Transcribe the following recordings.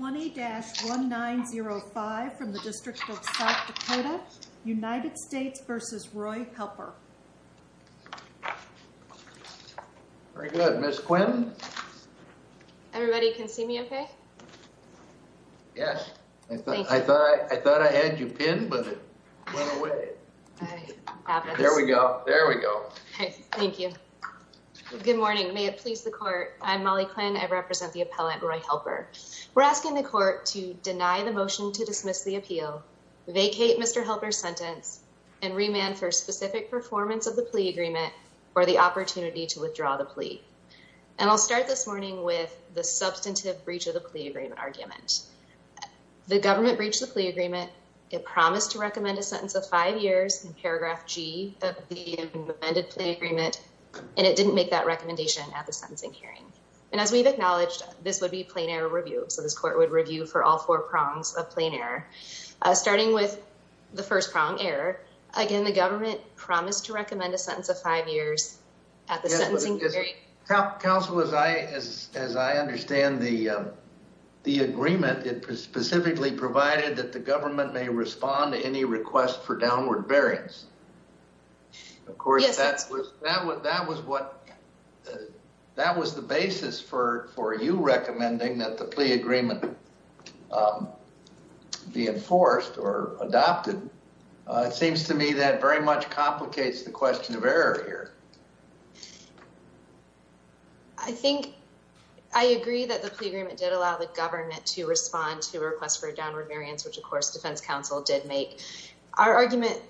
20-1905 from the District of South Dakota, United States v. Roy Helper. Very good. Ms. Quinn? Everybody can see me okay? Yes. I thought I had you pinned, but it went away. There we go. There we go. Okay. Thank you. Good morning. May it please the court. I'm Molly Quinn. I represent the appellant, Roy Helper. We're asking the court to deny the motion to dismiss the appeal, vacate Mr. Helper's sentence, and remand for specific performance of the plea agreement or the opportunity to withdraw the plea. And I'll start this morning with the substantive breach of the plea agreement argument. The government breached the plea agreement. It promised to recommend a sentence of five years in paragraph G of the amended plea agreement, and it didn't make that recommendation at the review. So this court would review for all four prongs of plain error, starting with the first prong, error. Again, the government promised to recommend a sentence of five years at the sentencing period. Counsel, as I understand the agreement, it specifically provided that the government may respond to any request for downward bearings. Of course, that was the basis for you recommending that the plea agreement be enforced or adopted. It seems to me that very much complicates the question of error here. I think I agree that the plea agreement did allow the government to respond to a request for a downward variance, which, of course, defense counsel did make. Our argument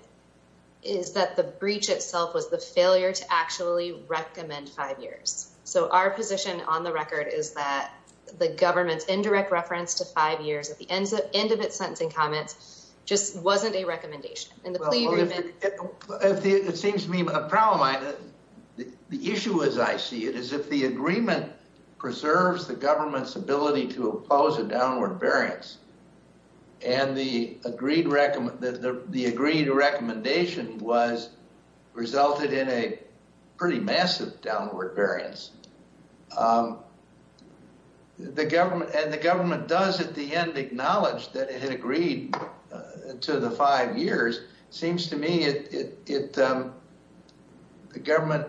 is that the breach itself was the failure to actually recommend five years. So our position on the record is that the government's indirect reference to five years at the end of its sentencing comments just wasn't a recommendation in the plea agreement. It seems to me a problem. The issue, as I see it, is if the agreement preserves the government's ability to oppose a downward variance and the agreed recommendation was resulted in a pretty massive downward variance, and the government does at the end acknowledge that it had agreed to the five years, seems to me the government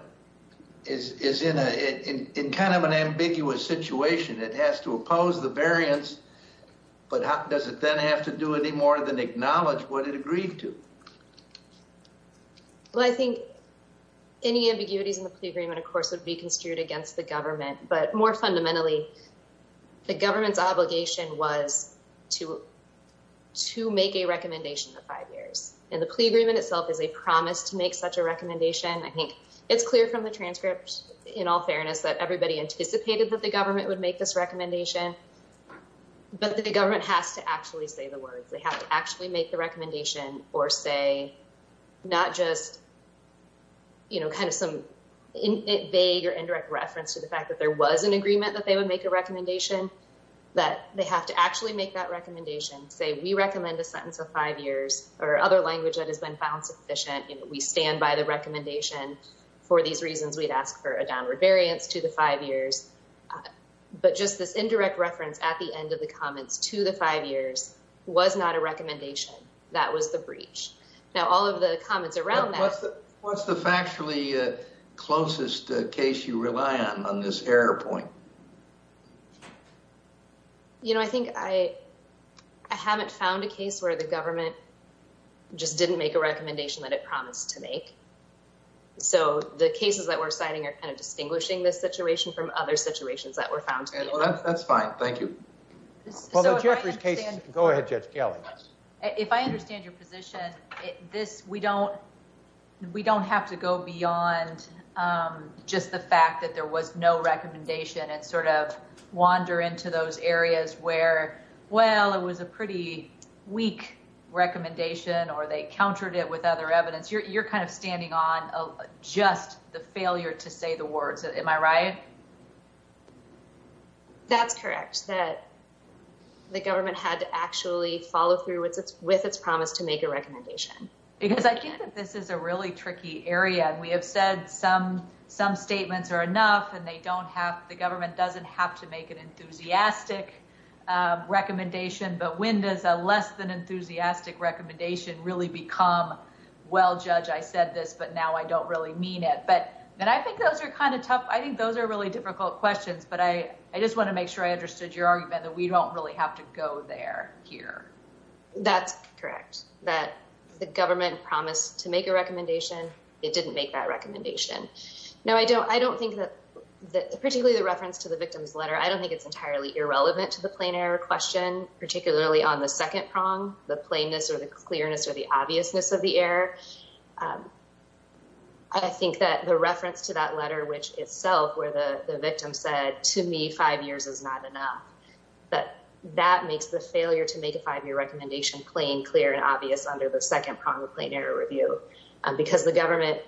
is in kind of an ambiguous situation. It has to oppose the variance, but does it then have to do any more than acknowledge what it agreed to? Well, I think any ambiguities in the plea agreement, of course, would be construed against the government, but more fundamentally, the government's obligation was to make a recommendation of five years, and the plea agreement itself is a promise to make such a recommendation. I think it's clear from the transcript, in all fairness, that everybody anticipated that the government would make this recommendation, but the government has to actually say the words. They have to actually make the recommendation or say, not just kind of some vague or indirect reference to the fact that there was an agreement that they would make a recommendation, that they have to actually make that recommendation. Say, we recommend a sentence of five years or other language that has been found sufficient. We stand by the recommendation. For these reasons, we'd ask for a downward variance to the five years, but just this indirect reference at the end of the comments to the five years was not a recommendation. That was the breach. Now, all of the comments around that... What's the factually closest case you rely on, on this error point? You know, I think I haven't found a case where the government just didn't make a recommendation that it promised to make. So, the cases that we're citing are kind of distinguishing this That's fine. Thank you. Go ahead, Judge Gally. If I understand your position, this, we don't, we don't have to go beyond just the fact that there was no recommendation and sort of wander into those areas where, well, it was a pretty weak recommendation or they countered it with other evidence. You're kind of standing on just the failure to say the words. Am I right? That's correct. That the government had to actually follow through with its promise to make a recommendation. Because I think that this is a really tricky area. And we have said some, some statements are enough and they don't have, the government doesn't have to make an enthusiastic recommendation. But when does a less than enthusiastic recommendation really become, well, Judge, I said this, but now I don't really mean it. But, and I think those are kind of tough. I think those are really difficult questions, but I, I just want to make sure I understood your argument that we don't really have to go there here. That's correct. That the government promised to make a recommendation. It didn't make that recommendation. No, I don't, I don't think that that particularly the reference to the victim's letter, I don't think it's entirely irrelevant to the plain error question, particularly on the second prong, the plainness or the clearness or the obviousness of the error. I think that the reference to that letter, which itself, where the victim said to me, five years is not enough, but that makes the failure to make a five-year recommendation plain, clear, and obvious under the second prong of plain error review. Because the government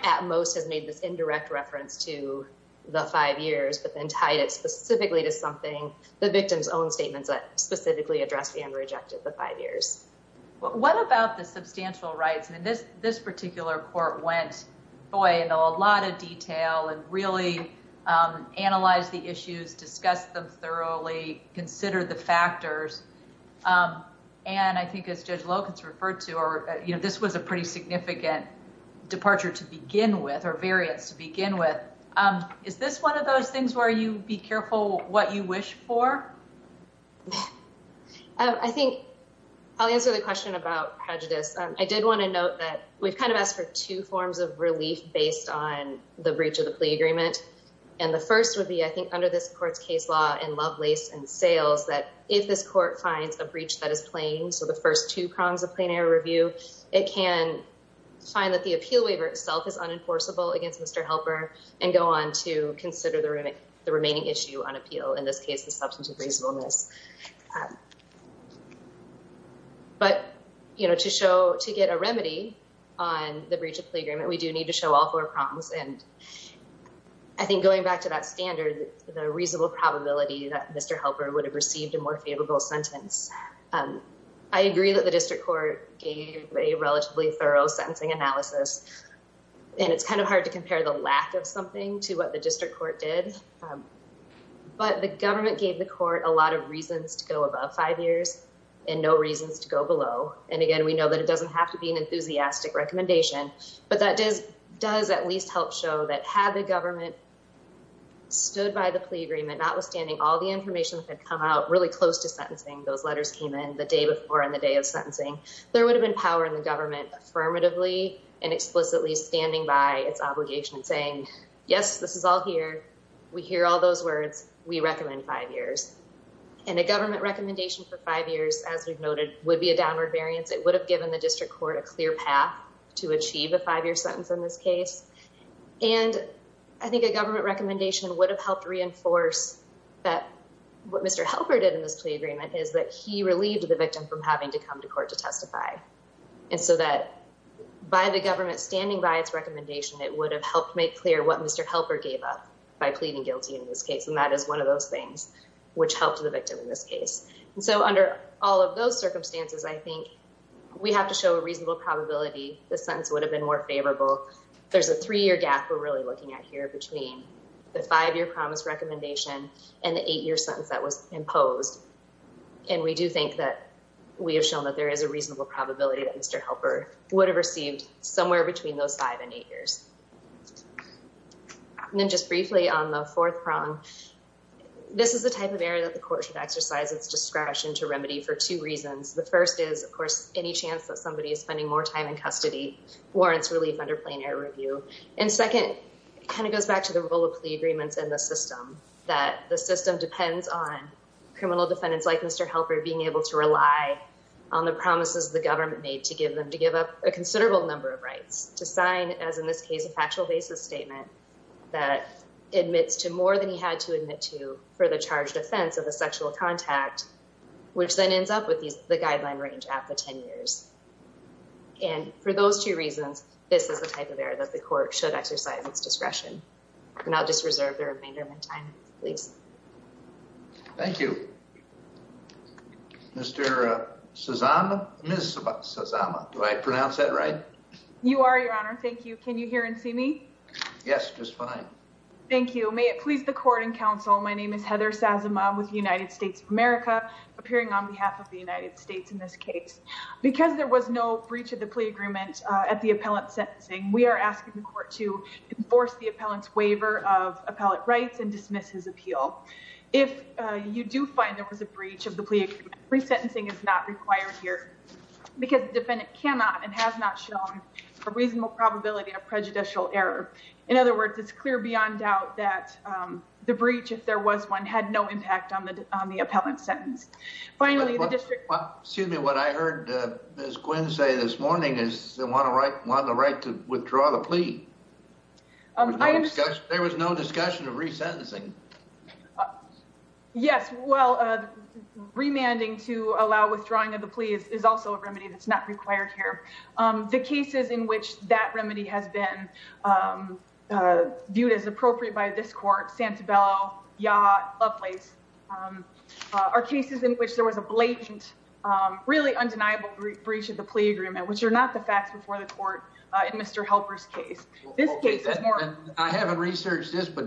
at most has made this indirect reference to the five years, but then tied it specifically to something, the victim's own statements that specifically addressed and rejected the five years. Well, what about the substantial rights? I mean, this, this particular report went, boy, into a lot of detail and really analyzed the issues, discussed them thoroughly, considered the factors. And I think as Judge Lopez referred to, or, you know, this was a pretty significant departure to begin with or variance to begin with. Is this one of those things where you be careful what you wish for? I think I'll answer the question about prejudice. I did want to note that we've kind of asked for two forms of relief based on the breach of the plea agreement. And the first would be, I think, under this court's case law in Lovelace and Sales, that if this court finds a breach that is plain, so the first two prongs of plain error review, it can find that the appeal waiver itself is unenforceable against Mr. Helper and go on to consider the remaining issue on appeal, in this case, the substantive reasonableness. But, you know, to show, to get a remedy on the breach of plea agreement, we do need to show all four prongs. And I think going back to that standard, the reasonable probability that Mr. Helper would have received a more favorable sentence. I agree that the district court gave a relatively thorough sentencing analysis, and it's kind of hard to compare the lack of something to what the district court did. But the government gave the court a lot of reasons to go above five years and no reasons to go below. And again, we know that it doesn't have to be an enthusiastic recommendation, but that does at least help show that had the government stood by the plea agreement, notwithstanding all the information that had come out really close to sentencing, those letters came in the day before and the day of sentencing, there would have been power in the government affirmatively and explicitly standing by its obligation and saying, yes, this is all here. We hear all those words. We recommend five years. And a government recommendation for five years, as we've noted, would be a downward variance. It would have given the district court a clear path to achieve a five-year sentence in this case. And I think a government recommendation would have helped reinforce that what Mr. Helper did in this plea agreement is that he relieved the victim from having to come to court to testify. And so that by the government standing by its recommendation, it would have helped make clear what Mr. Helper gave up by pleading guilty in this case. And that is one of those things which helped the victim in this case. And so under all of those circumstances, I think we have to show a reasonable probability the sentence would have been more favorable. There's a three-year gap we're really looking at here between the five-year promise recommendation and the eight-year sentence that was imposed. And we do think that we have shown that there is a reasonable probability that Mr. Helper would have received somewhere between those five and eight years. And then just briefly on the fourth prong, this is the type of error that the court should exercise its discretion to remedy for two reasons. The first is, of course, any chance that somebody is spending more time in custody warrants relief under plain air review. And second, kind of goes back to the role of plea agreements in the system, that the system depends on the promises the government made to give them to give up a considerable number of rights to sign, as in this case, a factual basis statement that admits to more than he had to admit to for the charged offense of a sexual contact, which then ends up with the guideline range at the 10 years. And for those two reasons, this is the type of error that the court should exercise its discretion. And I'll just reserve the remainder of my time, please. Thank you. Mr. Sazama, Ms. Sazama. Do I pronounce that right? You are, Your Honor. Thank you. Can you hear and see me? Yes, just fine. Thank you. May it please the court and counsel, my name is Heather Sazama with the United States of America, appearing on behalf of the United States in this case. Because there was no breach of the plea agreement at the appellant sentencing, we are asking the court to enforce the appellant's appeal. If you do find there was a breach of the plea, resentencing is not required here, because the defendant cannot and has not shown a reasonable probability of prejudicial error. In other words, it's clear beyond doubt that the breach, if there was one, had no impact on the appellant sentence. Finally, the district... Excuse me, what I heard Ms. Quinn say this morning is they want the right to withdraw the plea. There was no discussion of resentencing. Yes, well, remanding to allow withdrawing of the plea is also a remedy that's not required here. The cases in which that remedy has been viewed as appropriate by this court, Santabelle, Yacht, Lovelace, are cases in which there was a blatant, really undeniable breach of the plea agreement, which are not the facts before the court in Mr. Helper's case. I haven't researched this, but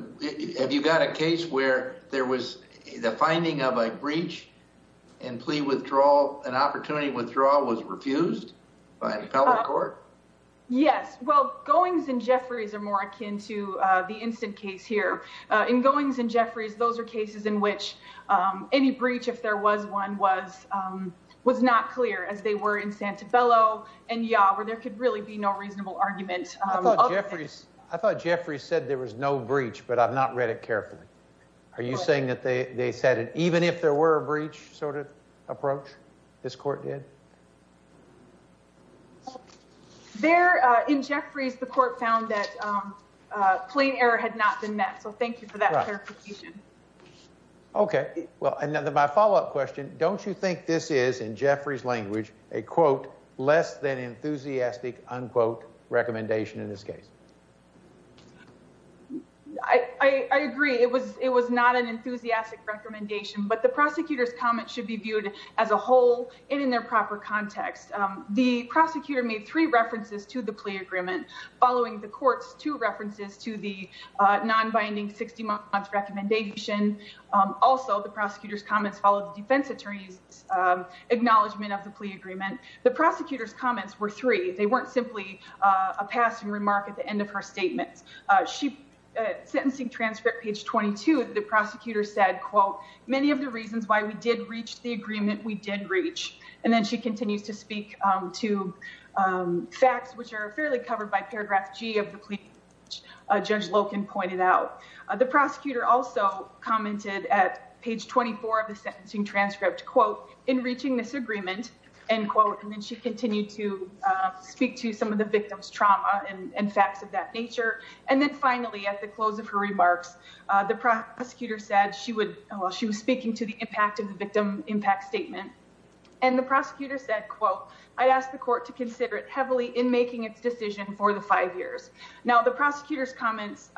have you got a case where there was the finding of a breach and plea withdrawal, an opportunity withdrawal was refused by an appellate court? Yes, well, Goings and Jeffries are more akin to the instant case here. In Goings and Jeffries, those are cases in which any breach, if there was one, was not clear as they were in Santabello and Yacht, where there could really be no reasonable argument. I thought Jeffries said there was no breach, but I've not read it carefully. Are you saying that they said it even if there were a breach sort of approach, this court did? In Jeffries, the court found that plain error had not been met, so thank you for that clarification. Okay, well, my follow-up question, don't you think this is, in Jeffries' language, a, quote, less than enthusiastic, unquote, recommendation in this case? I agree. It was not an enthusiastic recommendation, but the prosecutor's comments should be viewed as a whole and in their proper context. The prosecutor made three references to the plea agreement. Following the court's two references to the non-binding 60-month recommendation, also the prosecutor's comments followed the defense attorney's acknowledgment of the plea agreement. The prosecutor's comments were three. They weren't simply a passing remark at the end of her statements. Sentencing transcript, page 22, the prosecutor said, quote, many of the reasons why we did reach the agreement we did reach, and then she continues to speak to facts which are fairly covered by paragraph G of the plea agreement, which Judge Loken pointed out. The prosecutor also commented at page 24 of the sentencing transcript, quote, in reaching this agreement, end quote, and then she continued to speak to some of the victim's trauma and facts of that nature, and then finally, at the close of her remarks, the prosecutor said she would, well, she was speaking to the impact of the victim impact statement, and the prosecutor said, quote, I ask the court to consider it heavily in making its decision for the five years. Now, the prosecutor's comments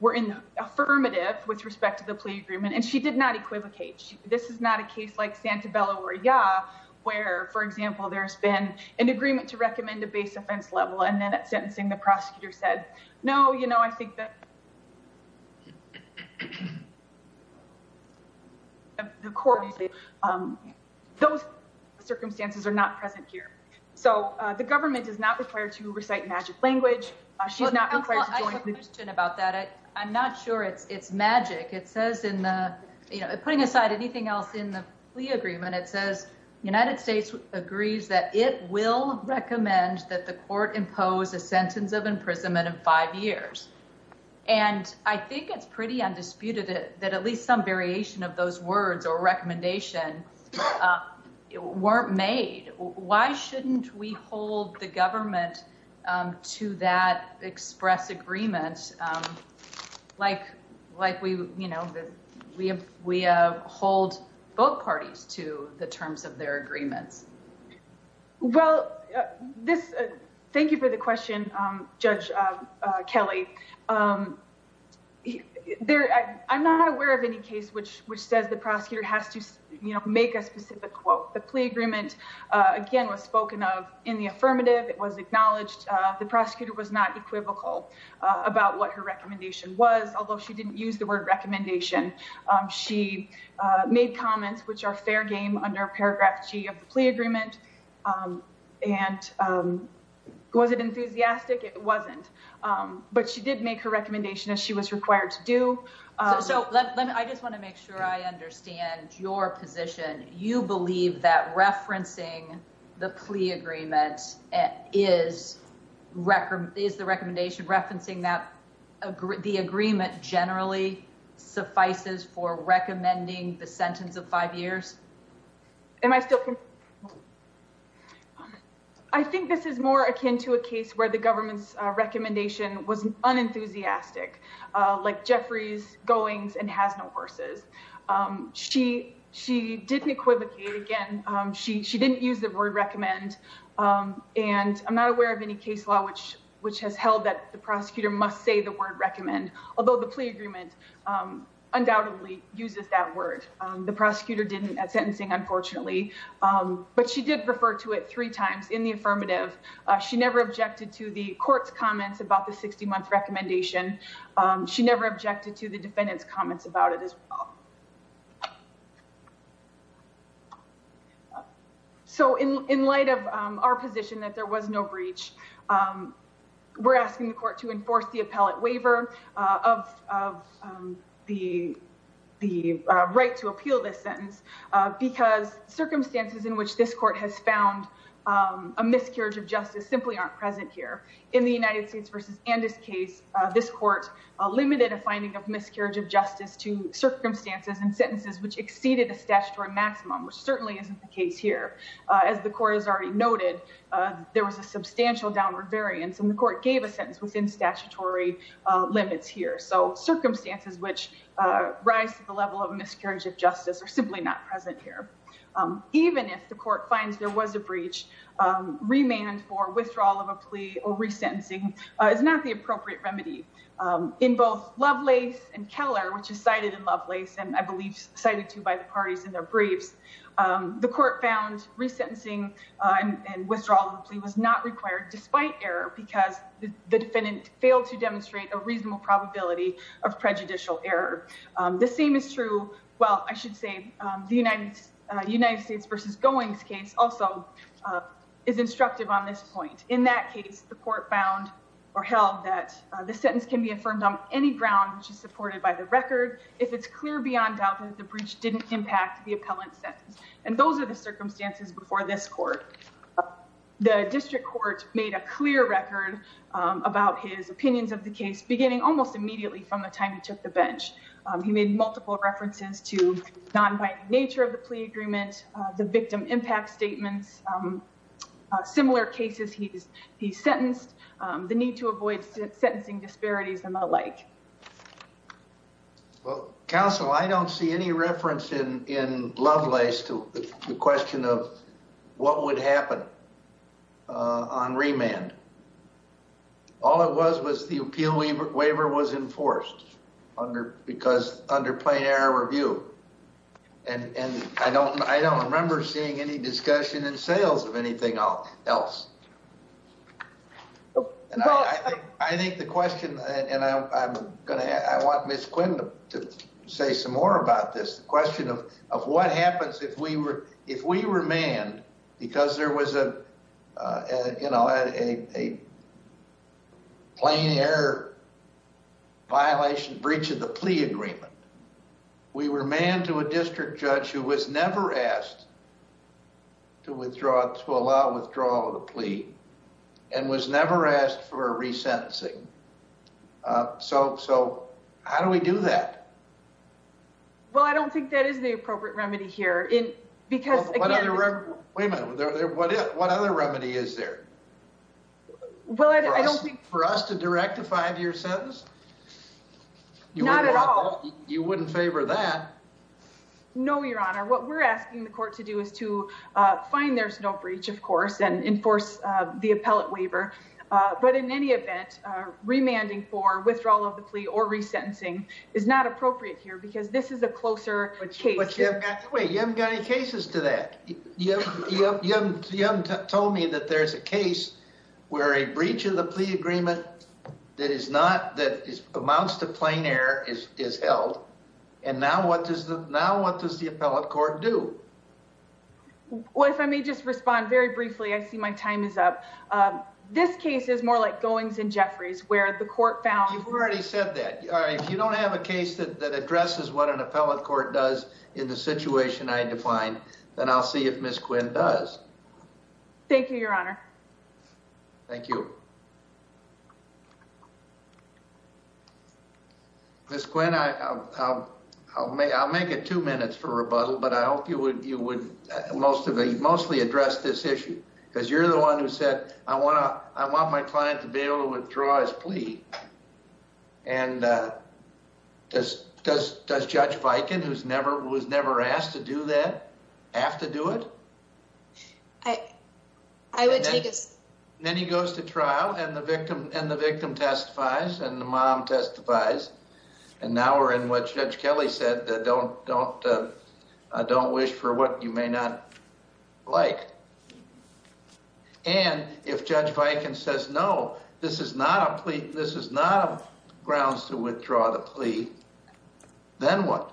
were affirmative with respect to the plea agreement, and she did not equivocate. This is not a case like Santabella or Ya, where, for example, there's been an agreement to recommend a base offense level, and then at sentencing, the prosecutor said, no, you know, I think that the court, those circumstances are not present here. So, the government does not require to recite magic language. She's not required to join. I have a question about that. I'm not sure it's magic. It says in the, you know, putting aside anything else in the plea agreement, it says United States agrees that it will recommend that the court impose a sentence of imprisonment of five years, and I think it's pretty undisputed that at least some variation of those words or recommendation weren't made. Why shouldn't we hold the government to that express agreement like we, you know, we hold both parties to the terms of their agreements? Well, this, thank you for the question, Judge Kelly. There, I'm not aware of any case which says the prosecutor has to, you know, make a specific quote. The plea agreement, again, was spoken of in the affirmative. It was acknowledged the prosecutor was not equivocal about what her recommendation was, although she didn't use the word recommendation. She made comments which are fair game under paragraph G of the plea agreement, and was it enthusiastic? It wasn't, but she did make her recommendation as she was required to do. So, let me, I just want to make sure I understand your position. You believe that referencing the plea agreement is the recommendation, referencing that the agreement generally suffices for recommending the sentence of five years? Am I still, I think this is more akin to a case where the government's recommendation was unenthusiastic, like Jeffrey's goings and has no horses. She didn't equivocate. Again, she didn't use the word recommend, and I'm not aware of any case law which has held that the prosecutor must say the word recommend, although the plea agreement undoubtedly uses that word. The prosecutor didn't at sentencing, unfortunately, but she did refer to it three times in the affirmative. She never objected to the court's comments about the 60-month recommendation. She never objected to the defendant's comments about it as well. So, in light of our position that there was no breach, we're asking the court to enforce the appellate waiver of the right to appeal this sentence because circumstances in which this court has found a miscarriage of justice simply aren't present here. In the United States versus Andis case, this court limited a finding of miscarriage of justice to circumstances and as the court has already noted, there was a substantial downward variance and the court gave a sentence within statutory limits here. So, circumstances which rise to the level of miscarriage of justice are simply not present here. Even if the court finds there was a breach, remand for withdrawal of a plea or resentencing is not the appropriate remedy. In both Lovelace and Keller, which is cited in Lovelace and I believe cited too by the parties in their briefs, the court found resentencing and withdrawal of a plea was not required despite error because the defendant failed to demonstrate a reasonable probability of prejudicial error. The same is true, well, I should say the United States versus Goings case also is instructive on this point. In that case, the court found or held that the sentence can be affirmed on any ground which is clear beyond doubt that the breach didn't impact the appellant's sentence and those are the circumstances before this court. The district court made a clear record about his opinions of the case beginning almost immediately from the time he took the bench. He made multiple references to non-binding nature of the plea agreement, the victim impact statements, similar cases he's seen. I don't see any reference in Lovelace to the question of what would happen on remand. All it was was the appeal waiver was enforced because under plain error review. I don't remember seeing any discussion in sales of anything else. I think the question, and I'm going to, I want Ms. Quinn to say some more about this, the question of what happens if we were, if we were manned because there was a, you know, a plain error violation breach of the plea agreement. We were manned to a district judge who was never asked to withdraw, to allow withdrawal of the plea and was never asked for a resentencing. So, so how do we do that? Well, I don't think that is the appropriate remedy here in, because again... Wait a minute, what other remedy is there? Well, I don't think... For us to direct a five-year sentence? Not at all. You wouldn't favor that? No, Your Honor. What we're asking the court to do is to find there's no breach, of course, and enforce the appellate waiver. But in any event, remanding for withdrawal of the plea or resentencing is not appropriate here because this is a closer case. Wait, you haven't got any cases to that. You haven't told me that there's a case where a breach of the plea agreement that is not, that amounts to plain error is held. And now what does the appellate court do? Well, if I may just respond very briefly, I see my time is up. This case is more like Goings and Jeffries, where the court found... You've already said that. If you don't have a case that addresses what an appellate court does in the situation I defined, then I'll see if Ms. Quinn does. Thank you, Your Honor. Thank you. Ms. Quinn, I'll make it two minutes for rebuttal, but I hope you would mostly address this issue because you're the one who said, I want my client to be able to withdraw his plea. And does Judge Viken, who was never asked to do that, have to do it? I would take a... Then he goes to trial and the victim testifies and the mom testifies. And now we're in what Judge Kelly said, don't wish for what you may not like. And if Judge Viken says, no, this is not a plea, this is not grounds to withdraw the plea, then what?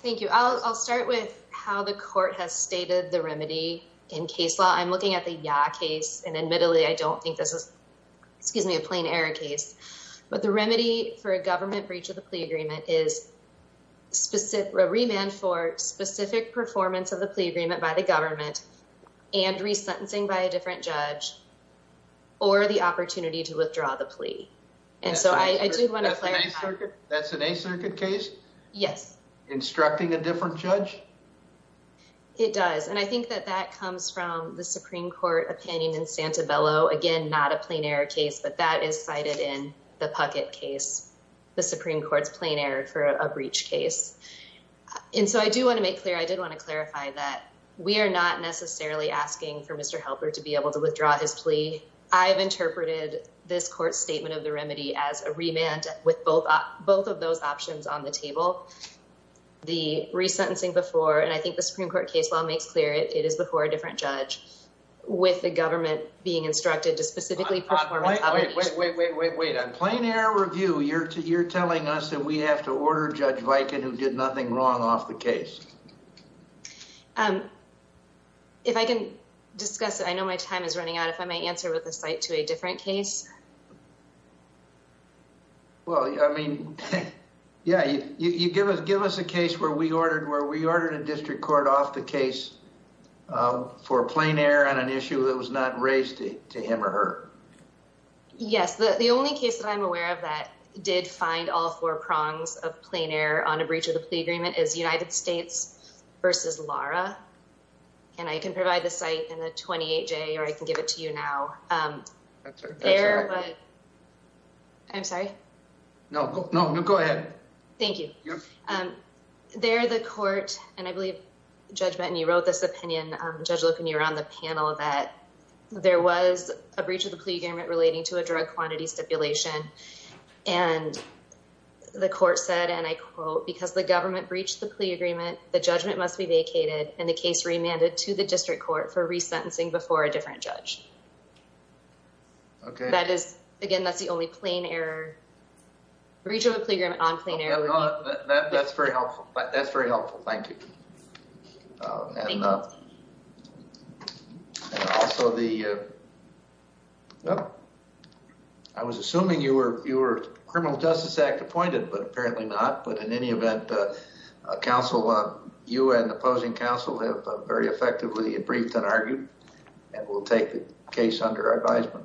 Thank you. I'll start with how the court has stated the remedy in case law. I'm looking at the Yah case, and admittedly, I don't think this is a plain error case. But the remedy for a government breach of the plea agreement is a remand for specific performance of the plea agreement by the government and resentencing by a different judge or the opportunity to withdraw the plea. And so I do want to clarify... That's an A circuit case? Yes. Instructing a different judge? It does. And I think that that comes from the Supreme Court opinion in Santabello. Again, not a plain error case, but that is cited in the Puckett case, the Supreme Court's plain error for a breach case. And so I do want to make clear, I did want to clarify that I've interpreted this court statement of the remedy as a remand with both of those options on the table, the resentencing before, and I think the Supreme Court case law makes clear it is before a different judge, with the government being instructed to specifically perform... Wait, wait, wait, wait, wait, wait. On plain error review, you're telling us that we have to order Judge Viken, who did nothing wrong, off the case. If I can discuss it, I know my time is running out, if I may answer with a slight to a different case. Well, I mean, yeah, you give us a case where we ordered a district court off the case for plain error on an issue that was not raised to him or her. Yes, the only case that I'm aware of that did find all four prongs of plain error on a breach of the plea agreement is United States versus Lara, and I can provide the site in the 28-J, or I can give it to you now. I'm sorry? No, no, no, go ahead. Thank you. There, the court, and I believe, Judge Benton, you wrote this opinion, Judge Loken, you were on the panel that there was a breach of the plea agreement relating to a drug quantity stipulation. And the court said, and I quote, because the government breached the plea agreement, the judgment must be vacated, and the case remanded to the district court for resentencing before a different judge. Okay. That is, again, that's the only plain error, breach of a plea agreement on plain error. That's very helpful. That's very helpful. Thank you. And also, I was assuming you were criminal justice act appointed, but apparently not. But in any event, counsel, you and opposing counsel have very effectively briefed and argued, and we'll take the case under our advisement.